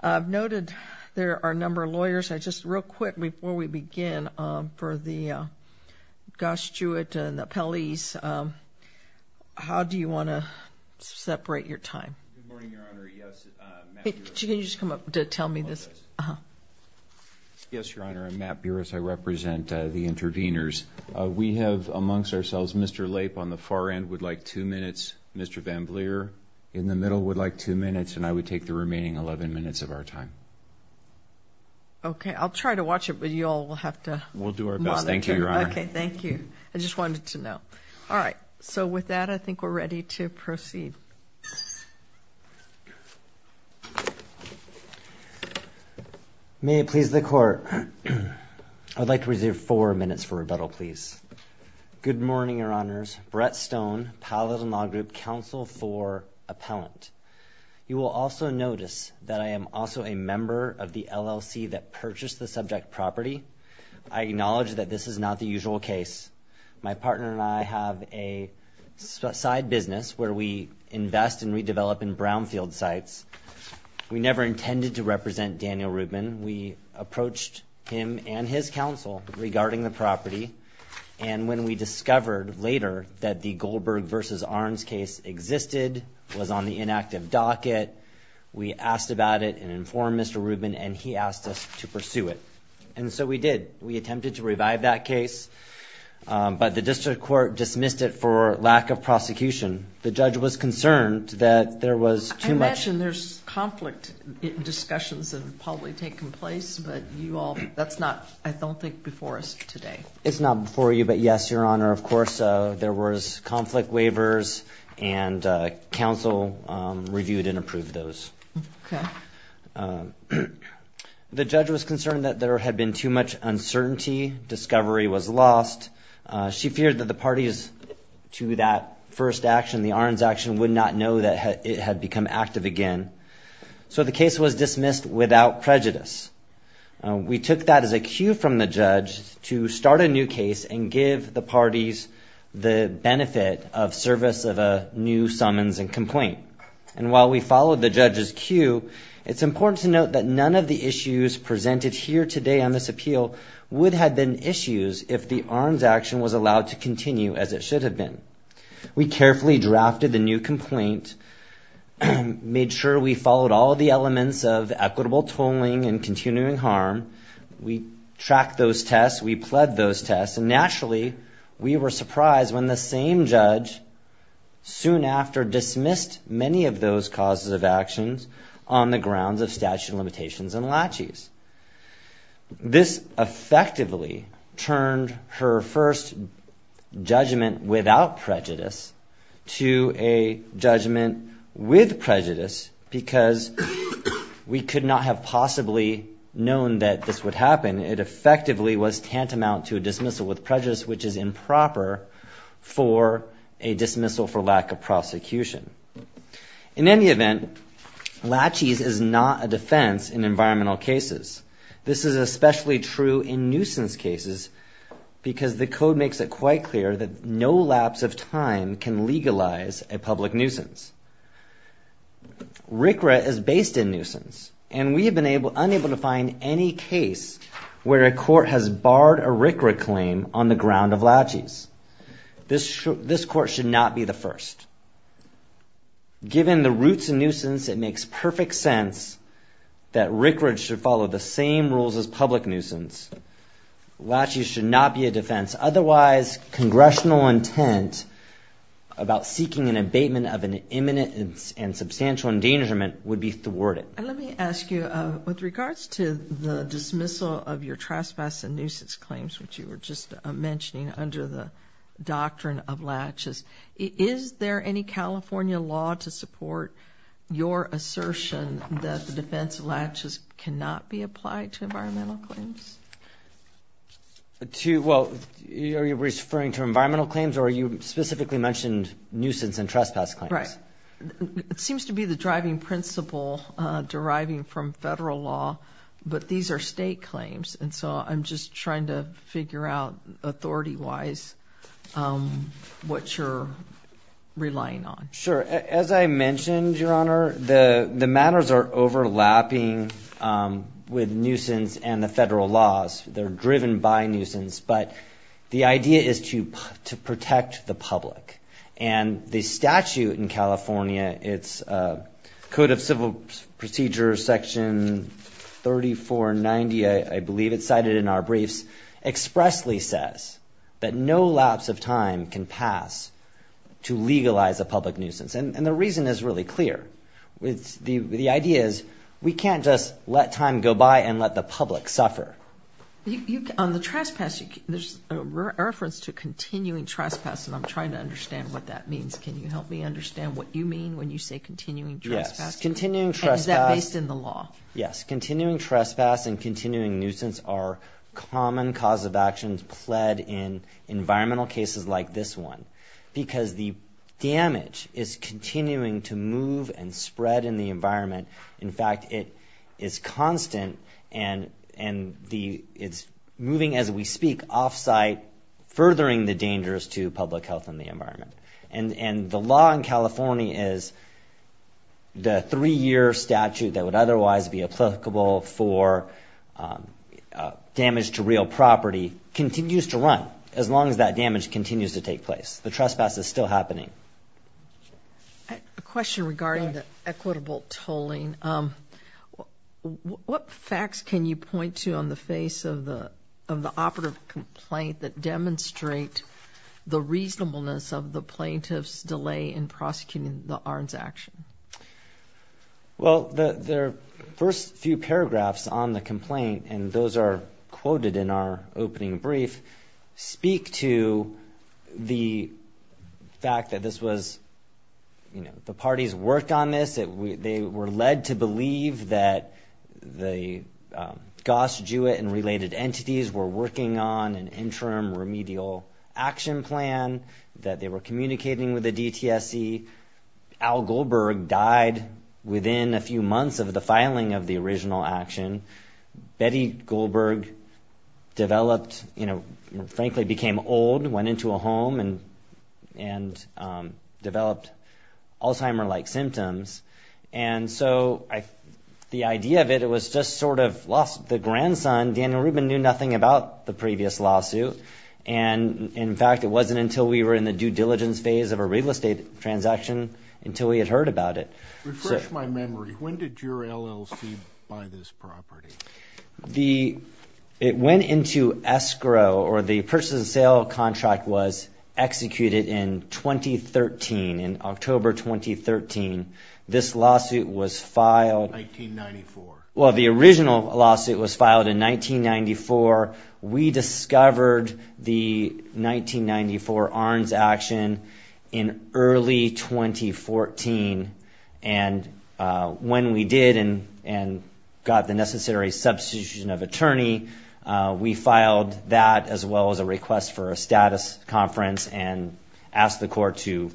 I've noted there are a number of lawyers, just real quick before we begin, for the Goss-Jewett and the appellees, how do you want to separate your time? Good morning, Your Honor. Yes, Matt Burris. Can you just come up to tell me this? Yes, Your Honor. I'm Matt Burris. I represent the interveners. We have amongst ourselves Mr. Lape on the far end would like two minutes, Mr. Van Vlier in the middle would like two minutes, and I would take the remaining 11 minutes of our time. Okay. I'll try to watch it, but you all will have to monitor. We'll do our best. Thank you, Your Honor. Okay. Thank you. I just wanted to know. All right. So with that, I think we're ready to proceed. May it please the Court, I'd like to reserve four minutes for rebuttal, please. Good morning, Your Honors. My name is Brett Stone, Paladin Law Group Counsel for Appellant. You will also notice that I am also a member of the LLC that purchased the subject property. I acknowledge that this is not the usual case. My partner and I have a side business where we invest and redevelop in brownfield sites. We never intended to represent Daniel Rubin. We approached him and his counsel regarding the property, and when we discovered later that the Goldberg v. Arns case existed, was on the inactive docket, we asked about it and informed Mr. Rubin, and he asked us to pursue it. And so we did. We attempted to revive that case, but the district court dismissed it for lack of prosecution. The judge was concerned that there was too much. As you mentioned, there's conflict discussions that have probably taken place, but that's not, I don't think, before us today. It's not before you, but yes, Your Honor, of course, there was conflict waivers, and counsel reviewed and approved those. Okay. The judge was concerned that there had been too much uncertainty, discovery was lost. She feared that the parties to that first action, the Arns action, would not know that it had become active again. So the case was dismissed without prejudice. We took that as a cue from the judge to start a new case and give the parties the benefit of service of a new summons and complaint. And while we followed the judge's cue, it's important to note that none of the issues presented here today on this appeal would have been issues if the Arns action was allowed to continue as it should have been. We carefully drafted the new complaint, made sure we followed all of the elements of equitable tolling and continuing harm. We tracked those tests. We pled those tests. And naturally, we were surprised when the same judge soon after dismissed many of those causes of actions on the grounds of statute of limitations and laches. This effectively turned her first judgment without prejudice to a judgment with prejudice because we could not have possibly known that this would happen. It effectively was tantamount to a dismissal with prejudice, which is improper for a dismissal for lack of prosecution. In any event, laches is not a defense in environmental cases. This is especially true in nuisance cases because the code makes it quite clear that no lapse of time can legalize a public nuisance. RCRA is based in nuisance, and we have been unable to find any case where a court has barred a RCRA claim on the ground of laches. This court should not be the first. Given the roots of nuisance, it makes perfect sense that RCRA should follow the same rules as public nuisance. Laches should not be a defense. Otherwise, congressional intent about seeking an abatement of an imminent and substantial endangerment would be thwarted. Let me ask you, with regards to the dismissal of your trespass and nuisance claims, which you were just mentioning under the doctrine of laches, is there any California law to support your assertion that the defense of laches cannot be applied to environmental claims? Well, are you referring to environmental claims, or you specifically mentioned nuisance and trespass claims? Right. It seems to be the driving principle deriving from federal law, but these are state claims, and so I'm just trying to figure out authority-wise what you're relying on. Sure. As I mentioned, Your Honor, the matters are overlapping with nuisance and the federal laws. They're driven by nuisance, but the idea is to protect the public, and the statute in California, it's Code of Civil Procedures, Section 3490, I believe it's cited in our briefs, expressly says that no lapse of time can pass to legalize a public nuisance. And the reason is really clear. The idea is we can't just let time go by and let the public suffer. On the trespass, there's a reference to continuing trespass, and I'm trying to understand what that means. Can you help me understand what you mean when you say continuing trespass? Yes. Continuing trespass. And is that based in the law? Yes. Continuing trespass and continuing nuisance are common cause of actions pled in environmental cases like this one because the damage is continuing to move and spread in the environment. In fact, it is constant, and it's moving, as we speak, off-site, furthering the dangers to public health and the environment. And the law in California is the three-year statute that would otherwise be applicable for damage to real property continues to run as long as that damage continues to take place. The trespass is still happening. A question regarding the equitable tolling. What facts can you point to on the face of the operative complaint that demonstrate the reasonableness of the plaintiff's delay in prosecuting the ARNs action? Well, the first few paragraphs on the complaint, and those are quoted in our opening brief, speak to the fact that this was the party's work on this. They were led to believe that the Goss, Jewett, and related entities were working on an interim remedial action plan, that they were communicating with the DTSC. Al Goldberg died within a few months of the filing of the original action. Betty Goldberg developed, you know, frankly became old, went into a home, and developed Alzheimer-like symptoms. And so the idea of it, it was just sort of the grandson, Daniel Rubin, knew nothing about the previous lawsuit. And, in fact, it wasn't until we were in the due diligence phase of a real estate transaction until we had heard about it. Refresh my memory. When did your LLC buy this property? The, it went into escrow, or the purchase and sale contract was executed in 2013, in October 2013. 1994. Well, the original lawsuit was filed in 1994. We discovered the 1994 ARNs action in early 2014. And when we did and got the necessary substitution of attorney, we filed that as well as a request for a status conference and asked the court to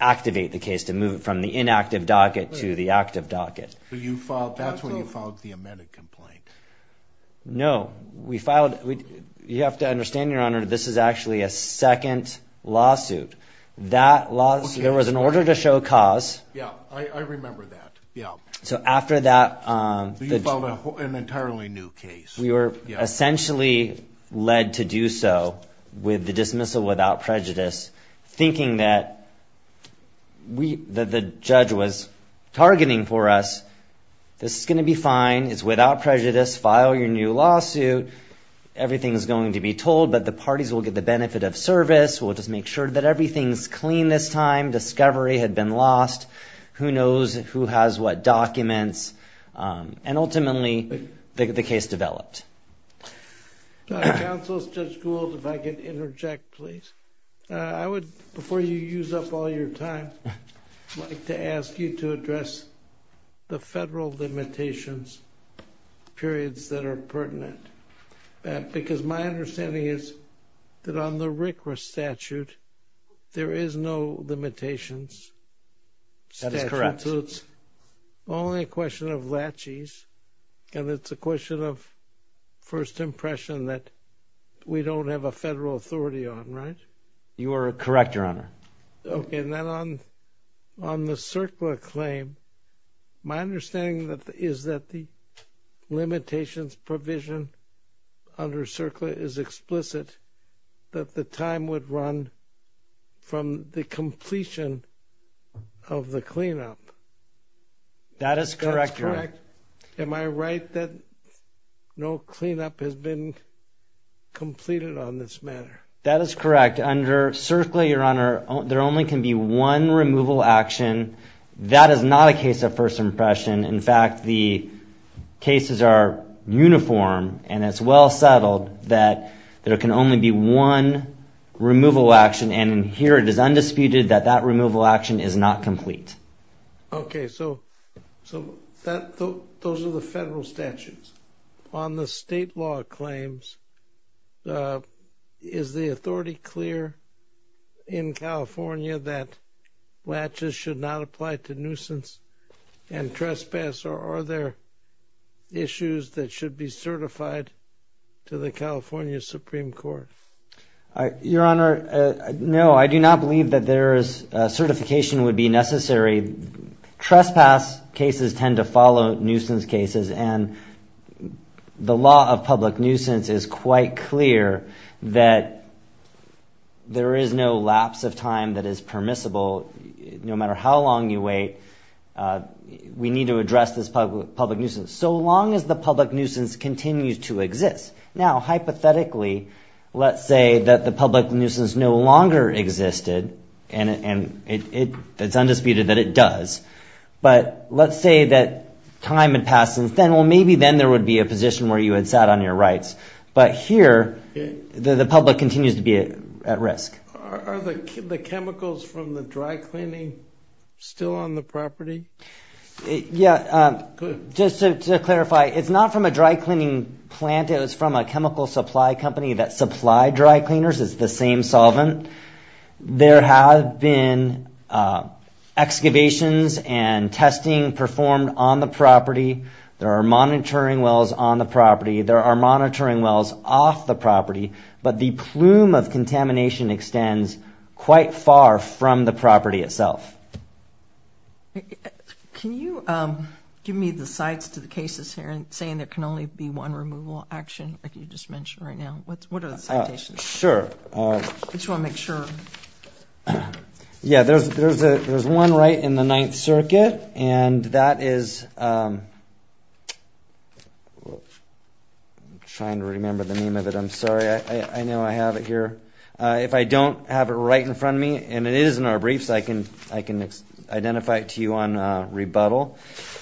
activate the case, to move it from the inactive docket to the active docket. So you filed, that's when you filed the amended complaint? No, we filed, you have to understand, Your Honor, this is actually a second lawsuit. That lawsuit, there was an order to show cause. Yeah, I remember that, yeah. So after that. You filed an entirely new case. We were essentially led to do so with the dismissal without prejudice, thinking that we, that the judge was targeting for us. This is going to be fine. It's without prejudice. File your new lawsuit. Everything is going to be told, but the parties will get the benefit of service. We'll just make sure that everything's clean this time. Discovery had been lost. Who knows who has what documents? And ultimately, the case developed. Counsel, Judge Gould, if I could interject, please. I would, before you use up all your time, like to ask you to address the federal limitations periods that are pertinent. Because my understanding is that on the RCRA statute, there is no limitations. That is correct. So it's only a question of latches, and it's a question of first impression that we don't have a federal authority on, right? You are correct, Your Honor. Okay, and then on the CERCLA claim, my understanding is that the limitations provision under CERCLA is explicit, that the time would run from the completion of the cleanup. That is correct, Your Honor. Am I right that no cleanup has been completed on this matter? That is correct. Under CERCLA, Your Honor, there only can be one removal action. That is not a case of first impression. In fact, the cases are uniform, and it's well settled that there can only be one removal action. And here it is undisputed that that removal action is not complete. Okay, so those are the federal statutes. On the state law claims, is the authority clear in California that latches should not apply to nuisance and trespass, or are there issues that should be certified to the California Supreme Court? Your Honor, no, I do not believe that certification would be necessary. Trespass cases tend to follow nuisance cases, and the law of public nuisance is quite clear that there is no lapse of time that is permissible. No matter how long you wait, we need to address this public nuisance, so long as the public nuisance continues to exist. Now, hypothetically, let's say that the public nuisance no longer existed, and it's undisputed that it does. But let's say that time had passed since then. Well, maybe then there would be a position where you had sat on your rights. But here, the public continues to be at risk. Are the chemicals from the dry cleaning still on the property? Yeah, just to clarify, it's not from a dry cleaning plant. It was from a chemical supply company that supplied dry cleaners. It's the same solvent. There have been excavations and testing performed on the property. There are monitoring wells on the property. There are monitoring wells off the property, but the plume of contamination extends quite far from the property itself. Can you give me the sites to the cases here, saying there can only be one removal action, like you just mentioned right now? What are the citations? Sure. I just want to make sure. Yeah, there's one right in the Ninth Circuit, and that is—I'm trying to remember the name of it. I'm sorry. I know I have it here. If I don't have it right in front of me, and it is in our briefs, I can identify it to you on rebuttal.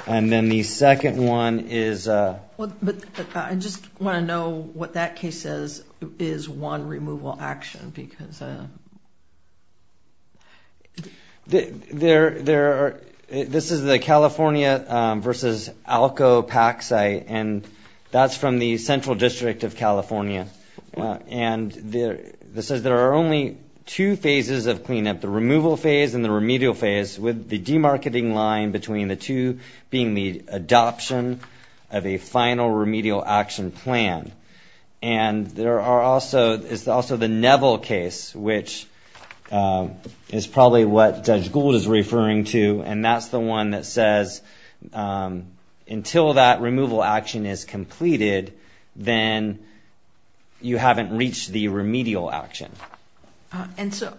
And then the second one is— I just want to know what that case says is one removal action because— This is the California versus ALCO PAC site, and that's from the Central District of California. And this says there are only two phases of cleanup, the removal phase and the remedial phase, with the demarketing line between the two being the adoption of a final remedial action plan. And there are also—it's also the Neville case, which is probably what Judge Gould is referring to, and that's the one that says until that removal action is completed, then you haven't reached the remedial action. And so,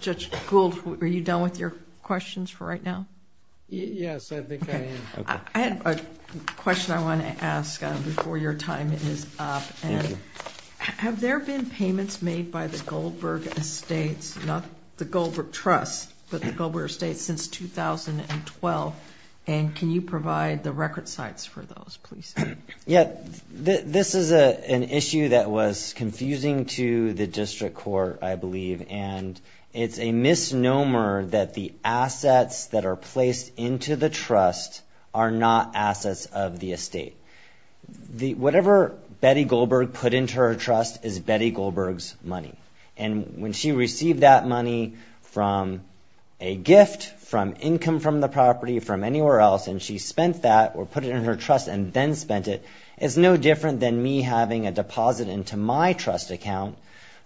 Judge Gould, are you done with your questions for right now? Yes, I think I am. Okay. I have a question I want to ask before your time is up. Have there been payments made by the Goldberg Estates, not the Goldberg Trust, but the Goldberg Estates since 2012? Yeah, this is an issue that was confusing to the district court, I believe, and it's a misnomer that the assets that are placed into the trust are not assets of the estate. Whatever Betty Goldberg put into her trust is Betty Goldberg's money. And when she received that money from a gift, from income from the property, from anywhere else, and she spent that or put it in her trust and then spent it, it's no different than me having a deposit into my trust account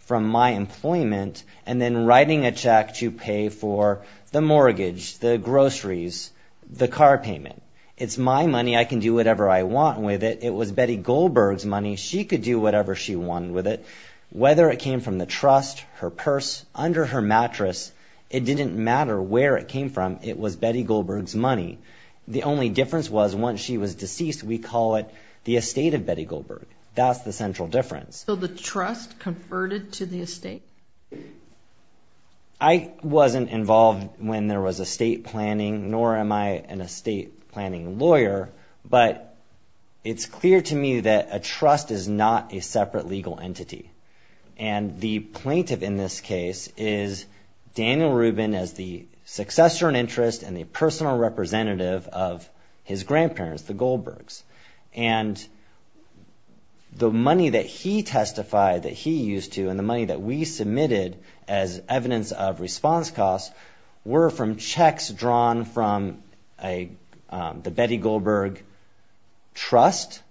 from my employment and then writing a check to pay for the mortgage, the groceries, the car payment. It's my money. I can do whatever I want with it. It was Betty Goldberg's money. She could do whatever she wanted with it, whether it came from the trust, her purse, under her mattress. It didn't matter where it came from. It was Betty Goldberg's money. The only difference was once she was deceased, we call it the estate of Betty Goldberg. That's the central difference. So the trust converted to the estate? I wasn't involved when there was estate planning, nor am I an estate planning lawyer, but it's clear to me that a trust is not a separate legal entity. And the plaintiff in this case is Daniel Rubin as the successor in interest and the personal representative of his grandparents, the Goldbergs. And the money that he testified that he used to and the money that we submitted as evidence of response costs were from checks drawn from the Betty Goldberg trust,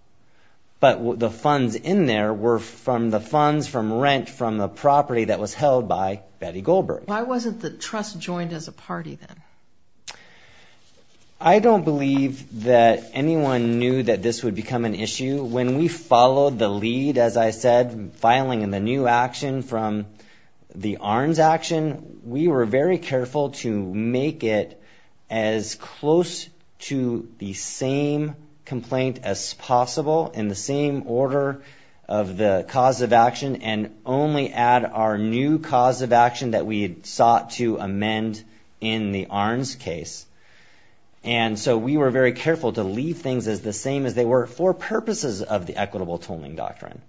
but the funds in there were from the funds from rent from the property that was held by Betty Goldberg. Why wasn't the trust joined as a party then? I don't believe that anyone knew that this would become an issue. When we followed the lead, as I said, filing in the new action from the ARNs action, we were very careful to make it as close to the same complaint as possible in the same order of the cause of action and only add our new cause of action that we sought to amend in the ARNs case. And so we were very careful to leave things as the same as they were for purposes of the equitable tolling doctrine.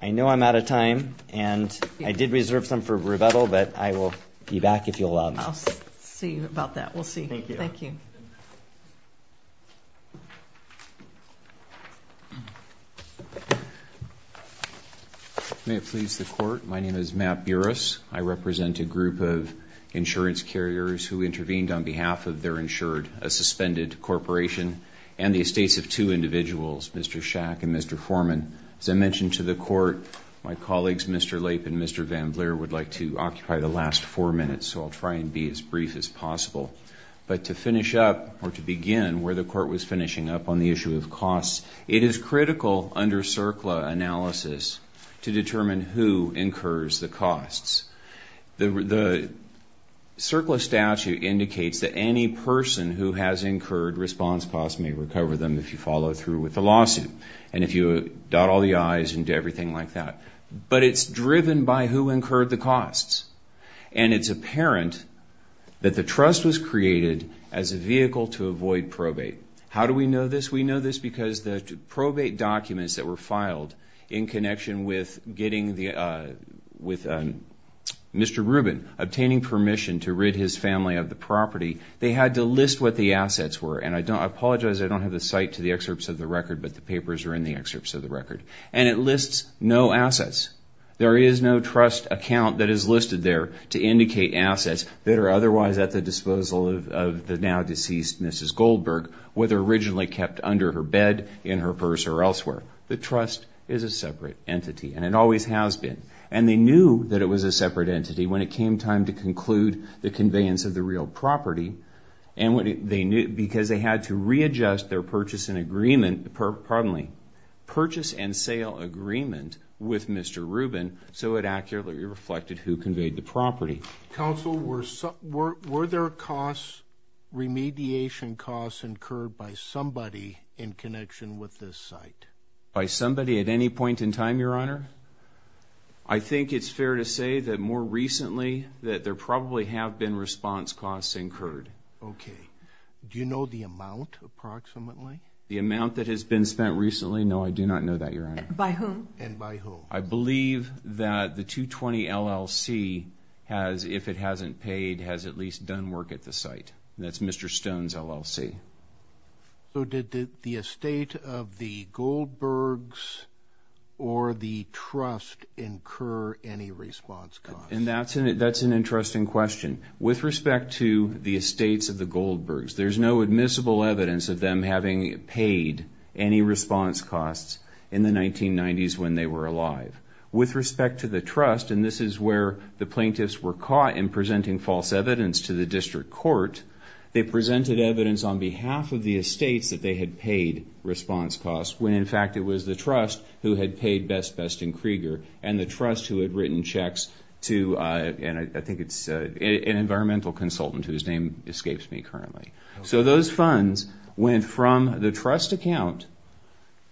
I know I'm out of time and I did reserve some for rebuttal, but I will be back if you'll allow me. I'll see about that. We'll see. Thank you. May it please the court. My name is Matt Buras. I represent a group of insurance carriers who intervened on behalf of their insured, a suspended corporation and the estates of two individuals, Mr. Shack and Mr. Foreman. As I mentioned to the court, my colleagues, Mr. Lape and Mr. VanVleer, would like to occupy the last four minutes, so I'll try and be as brief as possible. But to finish up or to begin where the court was finishing up on the issue of costs, it is critical under CERCLA analysis to determine who incurs the costs. The CERCLA statute indicates that any person who has incurred response costs may recover them if you follow through with the lawsuit. And if you dot all the I's and do everything like that. But it's driven by who incurred the costs. And it's apparent that the trust was created as a vehicle to avoid probate. How do we know this? We know this because the probate documents that were filed in connection with getting Mr. Rubin obtaining permission to rid his family of the property, they had to list what the assets were. And I apologize, I don't have the site to the excerpts of the record, but the papers are in the excerpts of the record. And it lists no assets. There is no trust account that is listed there to indicate assets that are otherwise at the disposal of the now-deceased Mrs. Goldberg, whether originally kept under her bed, in her purse, or elsewhere. The trust is a separate entity, and it always has been. And they knew that it was a separate entity when it came time to conclude the conveyance of the real property. Because they had to readjust their purchase and sale agreement with Mr. Rubin so it accurately reflected who conveyed the property. Counsel, were there remediation costs incurred by somebody in connection with this site? By somebody at any point in time, Your Honor? I think it's fair to say that more recently that there probably have been response costs incurred. Okay. Do you know the amount, approximately? The amount that has been spent recently? No, I do not know that, Your Honor. By whom? And by who? I believe that the 220 LLC has, if it hasn't paid, has at least done work at the site. That's Mr. Stone's LLC. So did the estate of the Goldbergs or the trust incur any response costs? And that's an interesting question. With respect to the estates of the Goldbergs, there's no admissible evidence of them having paid any response costs in the 1990s when they were alive. With respect to the trust, and this is where the plaintiffs were caught in presenting false evidence to the district court, they presented evidence on behalf of the estates that they had paid response costs when, in fact, it was the trust who had paid Best Best and Krieger and the trust who had written checks to, and I think it's an environmental consultant whose name escapes me currently. So those funds went from the trust account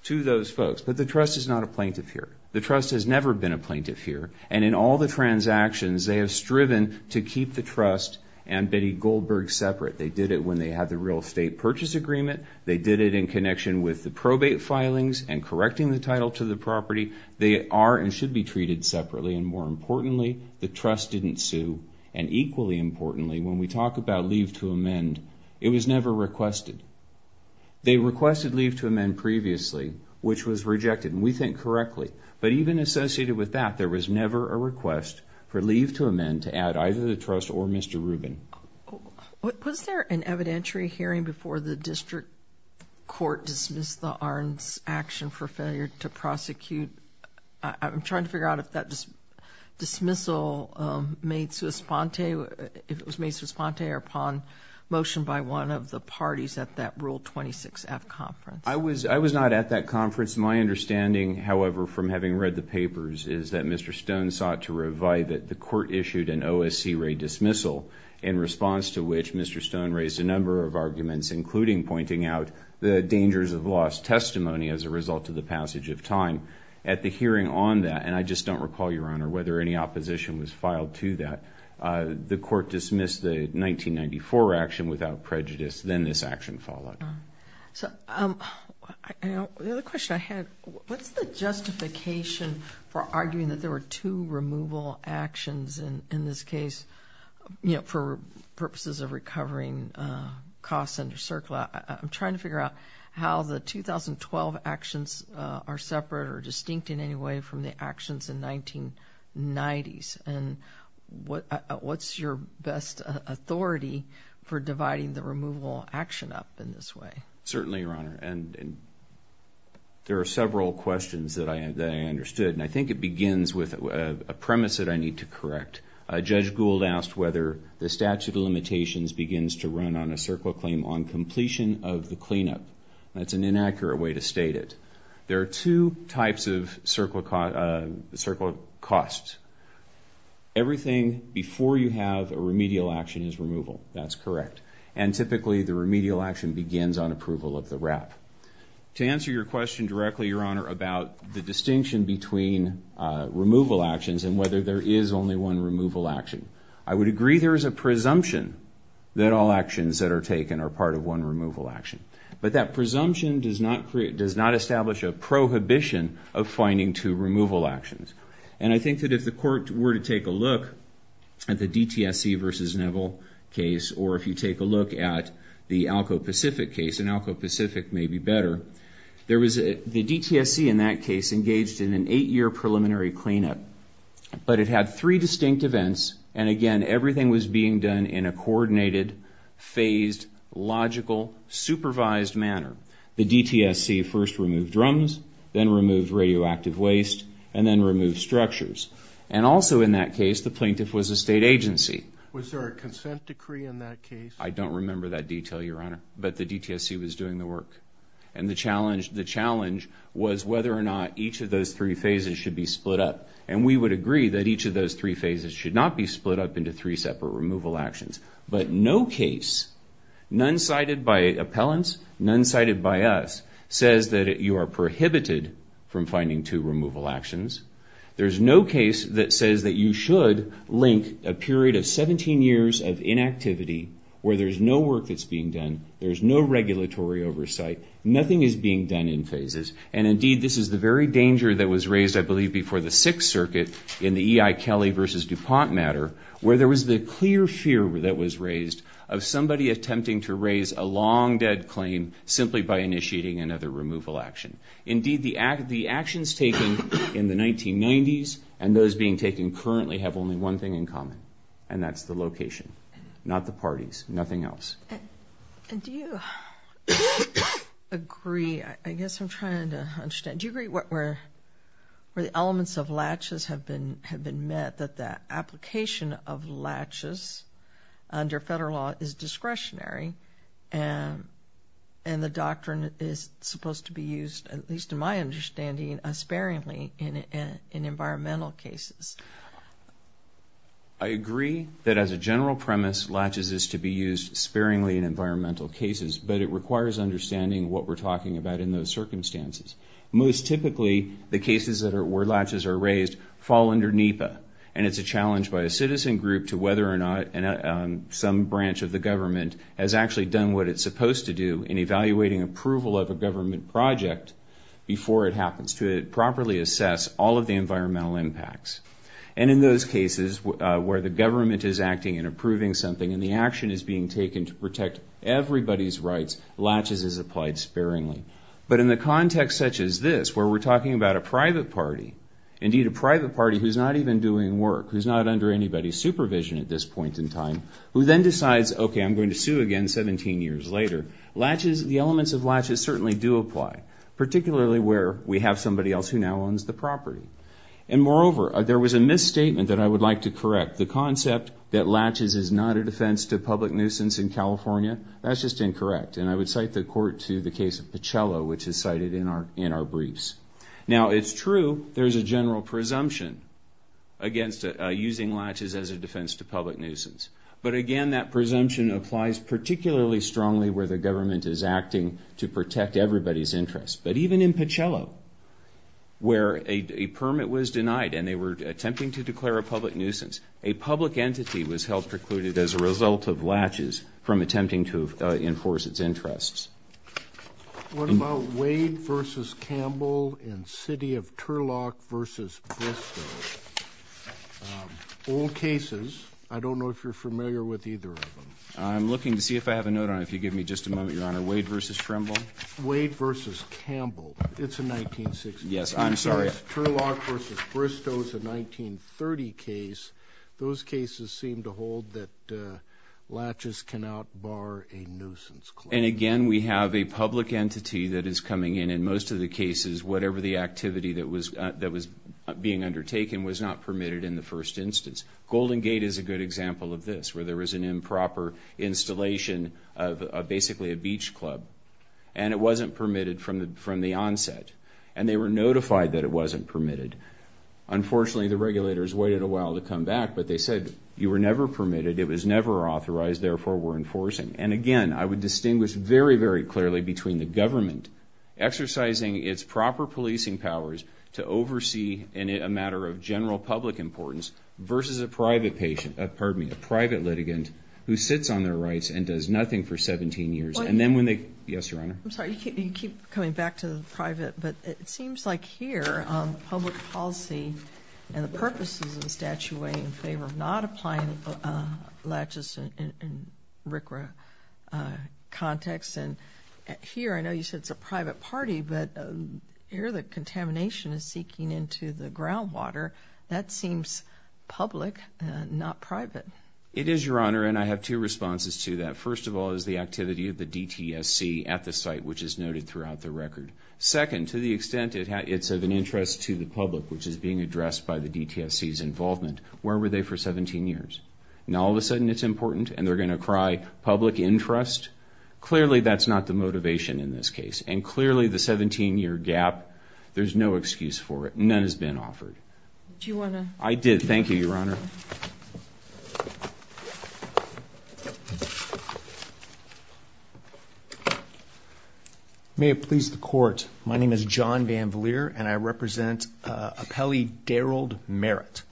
to those folks. But the trust is not a plaintiff here. The trust has never been a plaintiff here. And in all the transactions, they have striven to keep the trust and Betty Goldberg separate. They did it when they had the real estate purchase agreement. They did it in connection with the probate filings and correcting the title to the property. They are and should be treated separately. And more importantly, the trust didn't sue. And equally importantly, when we talk about leave to amend, it was never requested. They requested leave to amend previously, which was rejected, and we think correctly. But even associated with that, there was never a request for leave to amend to add either the trust or Mr. Rubin. Was there an evidentiary hearing before the district court dismissed the Arnn's action for failure to prosecute? I'm trying to figure out if that dismissal made sui sponte, if it was made sui sponte or upon motion by one of the parties at that Rule 26F conference. I was not at that conference. My understanding, however, from having read the papers, is that Mr. Stone sought to revive it. The court issued an OSC raid dismissal in response to which Mr. Stone raised a number of arguments, including pointing out the dangers of lost testimony as a result of the passage of time. At the hearing on that, and I just don't recall, Your Honor, whether any opposition was filed to that, the court dismissed the 1994 action without prejudice. Then this action followed. So the other question I had, what's the justification for arguing that there were two removal actions in this case, you know, for purposes of recovering costs under CERCLA? I'm trying to figure out how the 2012 actions are separate or distinct in any way from the actions in 1990s, and what's your best authority for dividing the removal action up in this way? Certainly, Your Honor, and there are several questions that I understood, and I think it begins with a premise that I need to correct. Judge Gould asked whether the statute of limitations begins to run on a CERCLA claim on completion of the cleanup. That's an inaccurate way to state it. There are two types of CERCLA costs. Everything before you have a remedial action is removal. That's correct. And typically, the remedial action begins on approval of the wrap. To answer your question directly, Your Honor, about the distinction between removal actions and whether there is only one removal action, I would agree there is a presumption that all actions that are taken are part of one removal action. But that presumption does not establish a prohibition of finding two removal actions. And I think that if the Court were to take a look at the DTSC v. Neville case, or if you take a look at the ALCO Pacific case, and ALCO Pacific may be better, the DTSC in that case engaged in an eight-year preliminary cleanup. But it had three distinct events, and again, everything was being done in a coordinated, phased, logical, supervised manner. The DTSC first removed drums, then removed radioactive waste, and then removed structures. And also in that case, the plaintiff was a state agency. Was there a consent decree in that case? I don't remember that detail, Your Honor, but the DTSC was doing the work. And the challenge was whether or not each of those three phases should be split up. And we would agree that each of those three phases should not be split up into three separate removal actions. But no case, none cited by appellants, none cited by us, says that you are prohibited from finding two removal actions. There's no case that says that you should link a period of 17 years of inactivity where there's no work that's being done, there's no regulatory oversight, nothing is being done in phases. And indeed, this is the very danger that was raised, I believe, before the Sixth Circuit in the E.I. Kelly v. DuPont matter, where there was the clear fear that was raised of somebody attempting to raise a long-dead claim simply by initiating another removal action. Indeed, the actions taken in the 1990s and those being taken currently have only one thing in common, and that's the location, not the parties, nothing else. And do you agree, I guess I'm trying to understand, do you agree where the elements of latches have been met, that the application of latches under federal law is discretionary and the doctrine is supposed to be used, at least in my understanding, sparingly in environmental cases? I agree that as a general premise, latches is to be used sparingly in environmental cases, but it requires understanding what we're talking about in those circumstances. Most typically, the cases where latches are raised fall under NEPA, and it's a challenge by a citizen group to whether or not some branch of the government has actually done what it's supposed to do in evaluating approval of a government project before it happens to properly assess all of the environmental impacts. And in those cases where the government is acting and approving something and the action is being taken to protect everybody's rights, latches is applied sparingly. But in the context such as this, where we're talking about a private party, indeed a private party who's not even doing work, who's not under anybody's supervision at this point in time, who then decides, okay, I'm going to sue again 17 years later, latches, the elements of latches certainly do apply, particularly where we have somebody else who now owns the property. And moreover, there was a misstatement that I would like to correct. The concept that latches is not a defense to public nuisance in California, that's just incorrect. And I would cite the court to the case of Pichello, which is cited in our briefs. Now, it's true there's a general presumption against using latches as a defense to public nuisance. But again, that presumption applies particularly strongly where the government is acting to protect everybody's interests. But even in Pichello, where a permit was denied and they were attempting to declare a public nuisance, a public entity was held precluded as a result of latches from attempting to enforce its interests. What about Wade v. Campbell in City of Turlock v. Bristow? Old cases. I don't know if you're familiar with either of them. I'm looking to see if I have a note on it if you give me just a moment, Your Honor. Wade v. Trimble? Wade v. Campbell. It's a 1960 case. Yes, I'm sorry. Turlock v. Bristow is a 1930 case. Those cases seem to hold that latches cannot bar a nuisance claim. And again, we have a public entity that is coming in in most of the cases, whatever the activity that was being undertaken was not permitted in the first instance. Golden Gate is a good example of this, where there was an improper installation of basically a beach club, and it wasn't permitted from the onset. And they were notified that it wasn't permitted. Unfortunately, the regulators waited a while to come back, but they said, you were never permitted, it was never authorized, therefore we're enforcing. And again, I would distinguish very, very clearly between the government exercising its proper policing powers to oversee a matter of general public importance versus a private litigant who sits on their rights and does nothing for 17 years. Yes, Your Honor? I'm sorry, you keep coming back to the private, but it seems like here, public policy and the purposes of the statute weigh in favor of not applying latches in RCRA context. And here, I know you said it's a private party, but air that contamination is seeking into the groundwater, that seems public and not private. It is, Your Honor, and I have two responses to that. First of all is the activity of the DTSC at the site, which is noted throughout the record. Second, to the extent it's of an interest to the public, which is being addressed by the DTSC's involvement, where were they for 17 years? Now all of a sudden it's important and they're going to cry public interest? Clearly that's not the motivation in this case. And clearly the 17-year gap, there's no excuse for it. None has been offered. I did. Thank you, Your Honor. Thank you, Your Honor. May it please the Court, my name is John VanVleer and I represent appellee Daryl Merritt.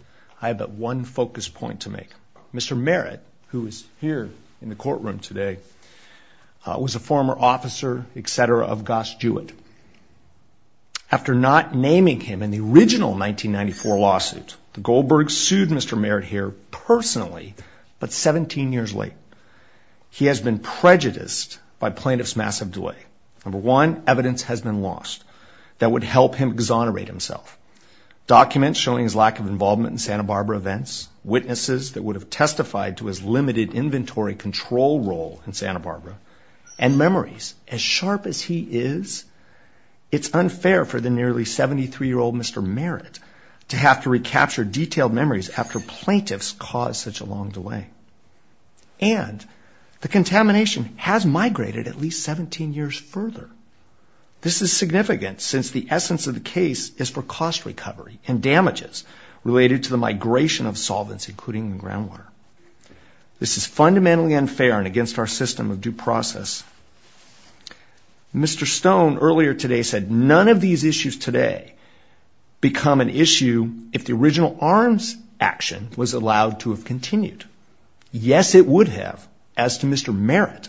I have but one focus point to make. Mr. Merritt, who is here in the courtroom today, was a former officer, et cetera, of Goss Jewett. After not naming him in the original 1994 lawsuit, Goldberg sued Mr. Merritt here personally, but 17 years late. He has been prejudiced by plaintiff's massive delay. Number one, evidence has been lost that would help him exonerate himself. Documents showing his lack of involvement in Santa Barbara events, witnesses that would have testified to his limited inventory control role in Santa Barbara, and memories. As sharp as he is, it's unfair for the nearly 73-year-old Mr. Merritt to have to recapture detailed memories after plaintiff's caused such a long delay. And the contamination has migrated at least 17 years further. This is significant since the essence of the case is for cost recovery and damages related to the migration of solvents, including the groundwater. This is fundamentally unfair and against our system of due process. Mr. Stone earlier today said none of these issues today become an issue if the original arms action was allowed to have continued. Yes, it would have, as to Mr. Merritt,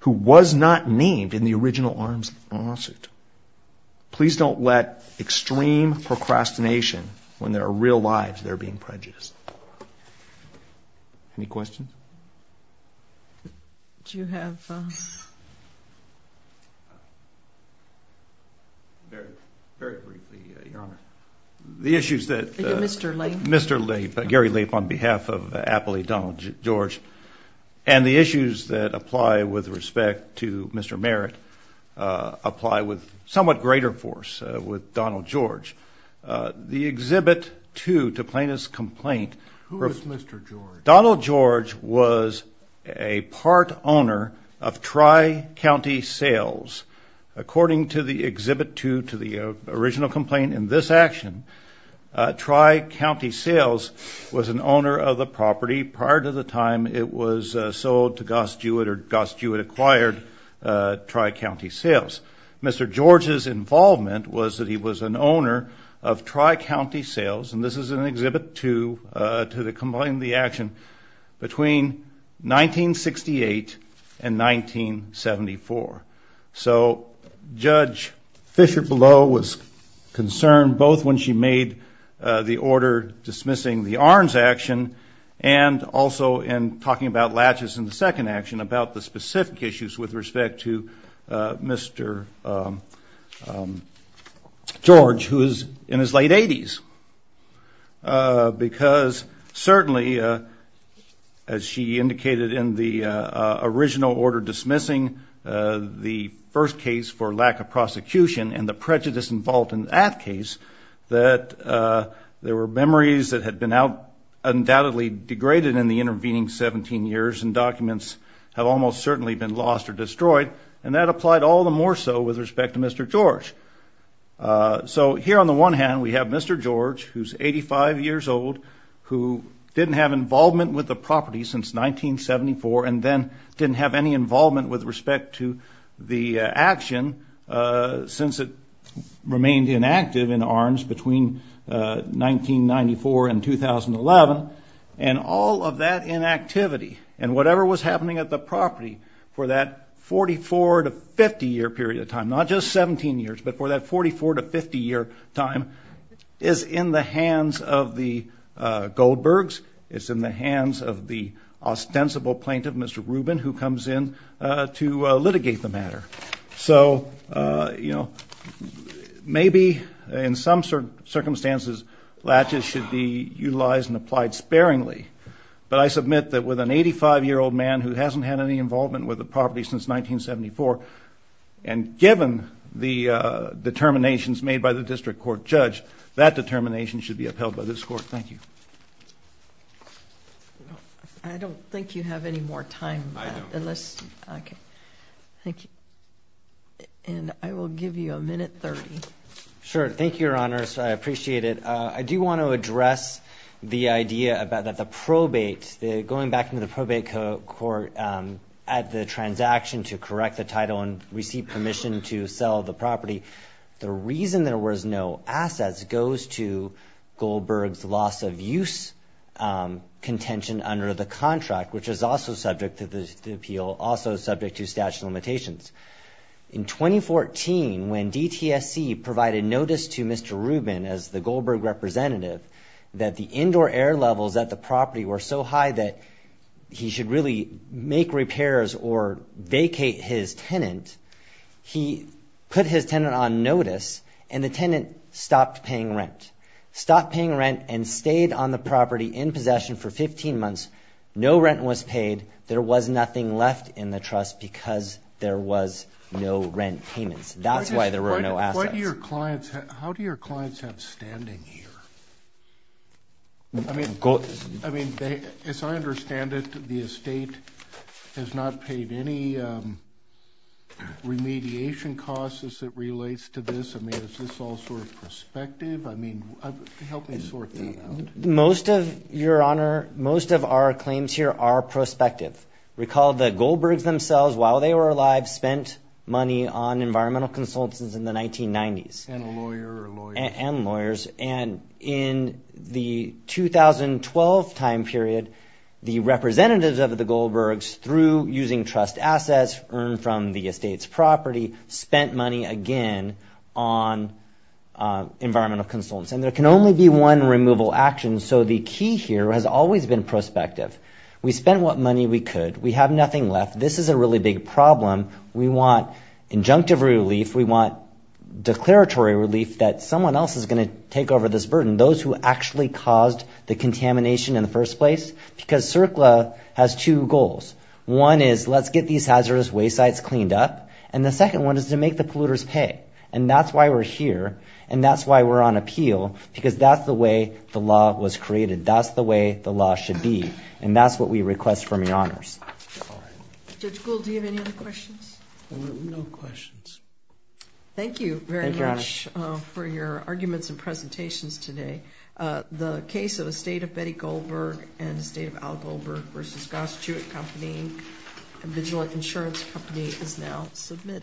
who was not named in the original arms lawsuit. Please don't let extreme procrastination when there are real lives there being prejudiced. Any questions? Do you have... Very briefly, Your Honor. The issues that... Mr. Lape. Mr. Lape, Gary Lape on behalf of Appley Donald George, and the issues that apply with respect to Mr. Merritt apply with somewhat greater force with Donald George. The Exhibit 2 to plaintiff's complaint... Who is Mr. George? Donald George was a part owner of Tri-County Sales. According to the Exhibit 2 to the original complaint in this action, Tri-County Sales was an owner of the property prior to the time it was sold to Goss-Jewett or Goss-Jewett acquired Tri-County Sales. Mr. George's involvement was that he was an owner of Tri-County Sales, and this is in Exhibit 2 to the complaint in the action, between 1968 and 1974. So Judge Fisher-Below was concerned both when she made the order dismissing the arms action and also in talking about latches in the second action, about the specific issues with respect to Mr. George, who is in his late 80s. Because certainly, as she indicated in the original order dismissing the first case for lack of prosecution and the prejudice involved in that case, that there were memories that had been undoubtedly degraded in the intervening 17 years and documents have almost certainly been lost or destroyed, and that applied all the more so with respect to Mr. George. So here on the one hand, we have Mr. George, who's 85 years old, who didn't have involvement with the property since 1974 and then didn't have any involvement with respect to the action since it remained inactive in arms between 1994 and 2011, and all of that inactivity. And whatever was happening at the property for that 44 to 50 year period of time, not just 17 years, but for that 44 to 50 year time, is in the hands of the Goldbergs, it's in the hands of the ostensible plaintiff, Mr. Rubin, who comes in to litigate the matter. So maybe in some circumstances, latches should be utilized and applied sparingly. But I submit that with an 85-year-old man who hasn't had any involvement with the property since 1974, and given the determinations made by the district court judge, that determination should be upheld by this court. Thank you. I don't think you have any more time. I don't. Okay. Thank you. And I will give you a minute 30. Sure. Thank you, Your Honors. I appreciate it. I do want to address the idea that the probate, going back into the probate court, at the transaction to correct the title and receive permission to sell the property, the reason there was no assets goes to Goldberg's loss of use contention under the contract, which is also subject to the appeal, also subject to statute of limitations. In 2014, when DTSC provided notice to Mr. Rubin as the Goldberg representative that the indoor air levels at the property were so high that he should really make repairs or vacate his tenant, he put his tenant on notice, and the tenant stopped paying rent. Stopped paying rent and stayed on the property in possession for 15 months. No rent was paid. There was nothing left in the trust because there was no rent payments. That's why there were no assets. How do your clients have standing here? I mean, as I understand it, the estate has not paid any remediation costs as it relates to this. I mean, is this all sort of prospective? I mean, help me sort that out. Most of, Your Honor, most of our claims here are prospective. Recall the Goldbergs themselves, while they were alive, spent money on environmental consultants in the 1990s. And a lawyer or a lawyer. And lawyers. And in the 2012 time period, the representatives of the Goldbergs, through using trust assets earned from the estate's property, spent money again on environmental consultants. And there can only be one removal action. So the key here has always been prospective. We spent what money we could. We have nothing left. This is a really big problem. We want injunctive relief. We want declaratory relief that someone else is going to take over this burden, those who actually caused the contamination in the first place. Because CERCLA has two goals. One is let's get these hazardous waste sites cleaned up. And the second one is to make the polluters pay. And that's why we're here. And that's why we're on appeal. Because that's the way the law was created. That's the way the law should be. And that's what we request from your honors. All right. Judge Gould, do you have any other questions? No questions. Thank you very much for your arguments and presentations today. The case of the estate of Betty Goldberg and the estate of Al Goldberg v. Goss Jewett Company, a vigilant insurance company, is now submitted.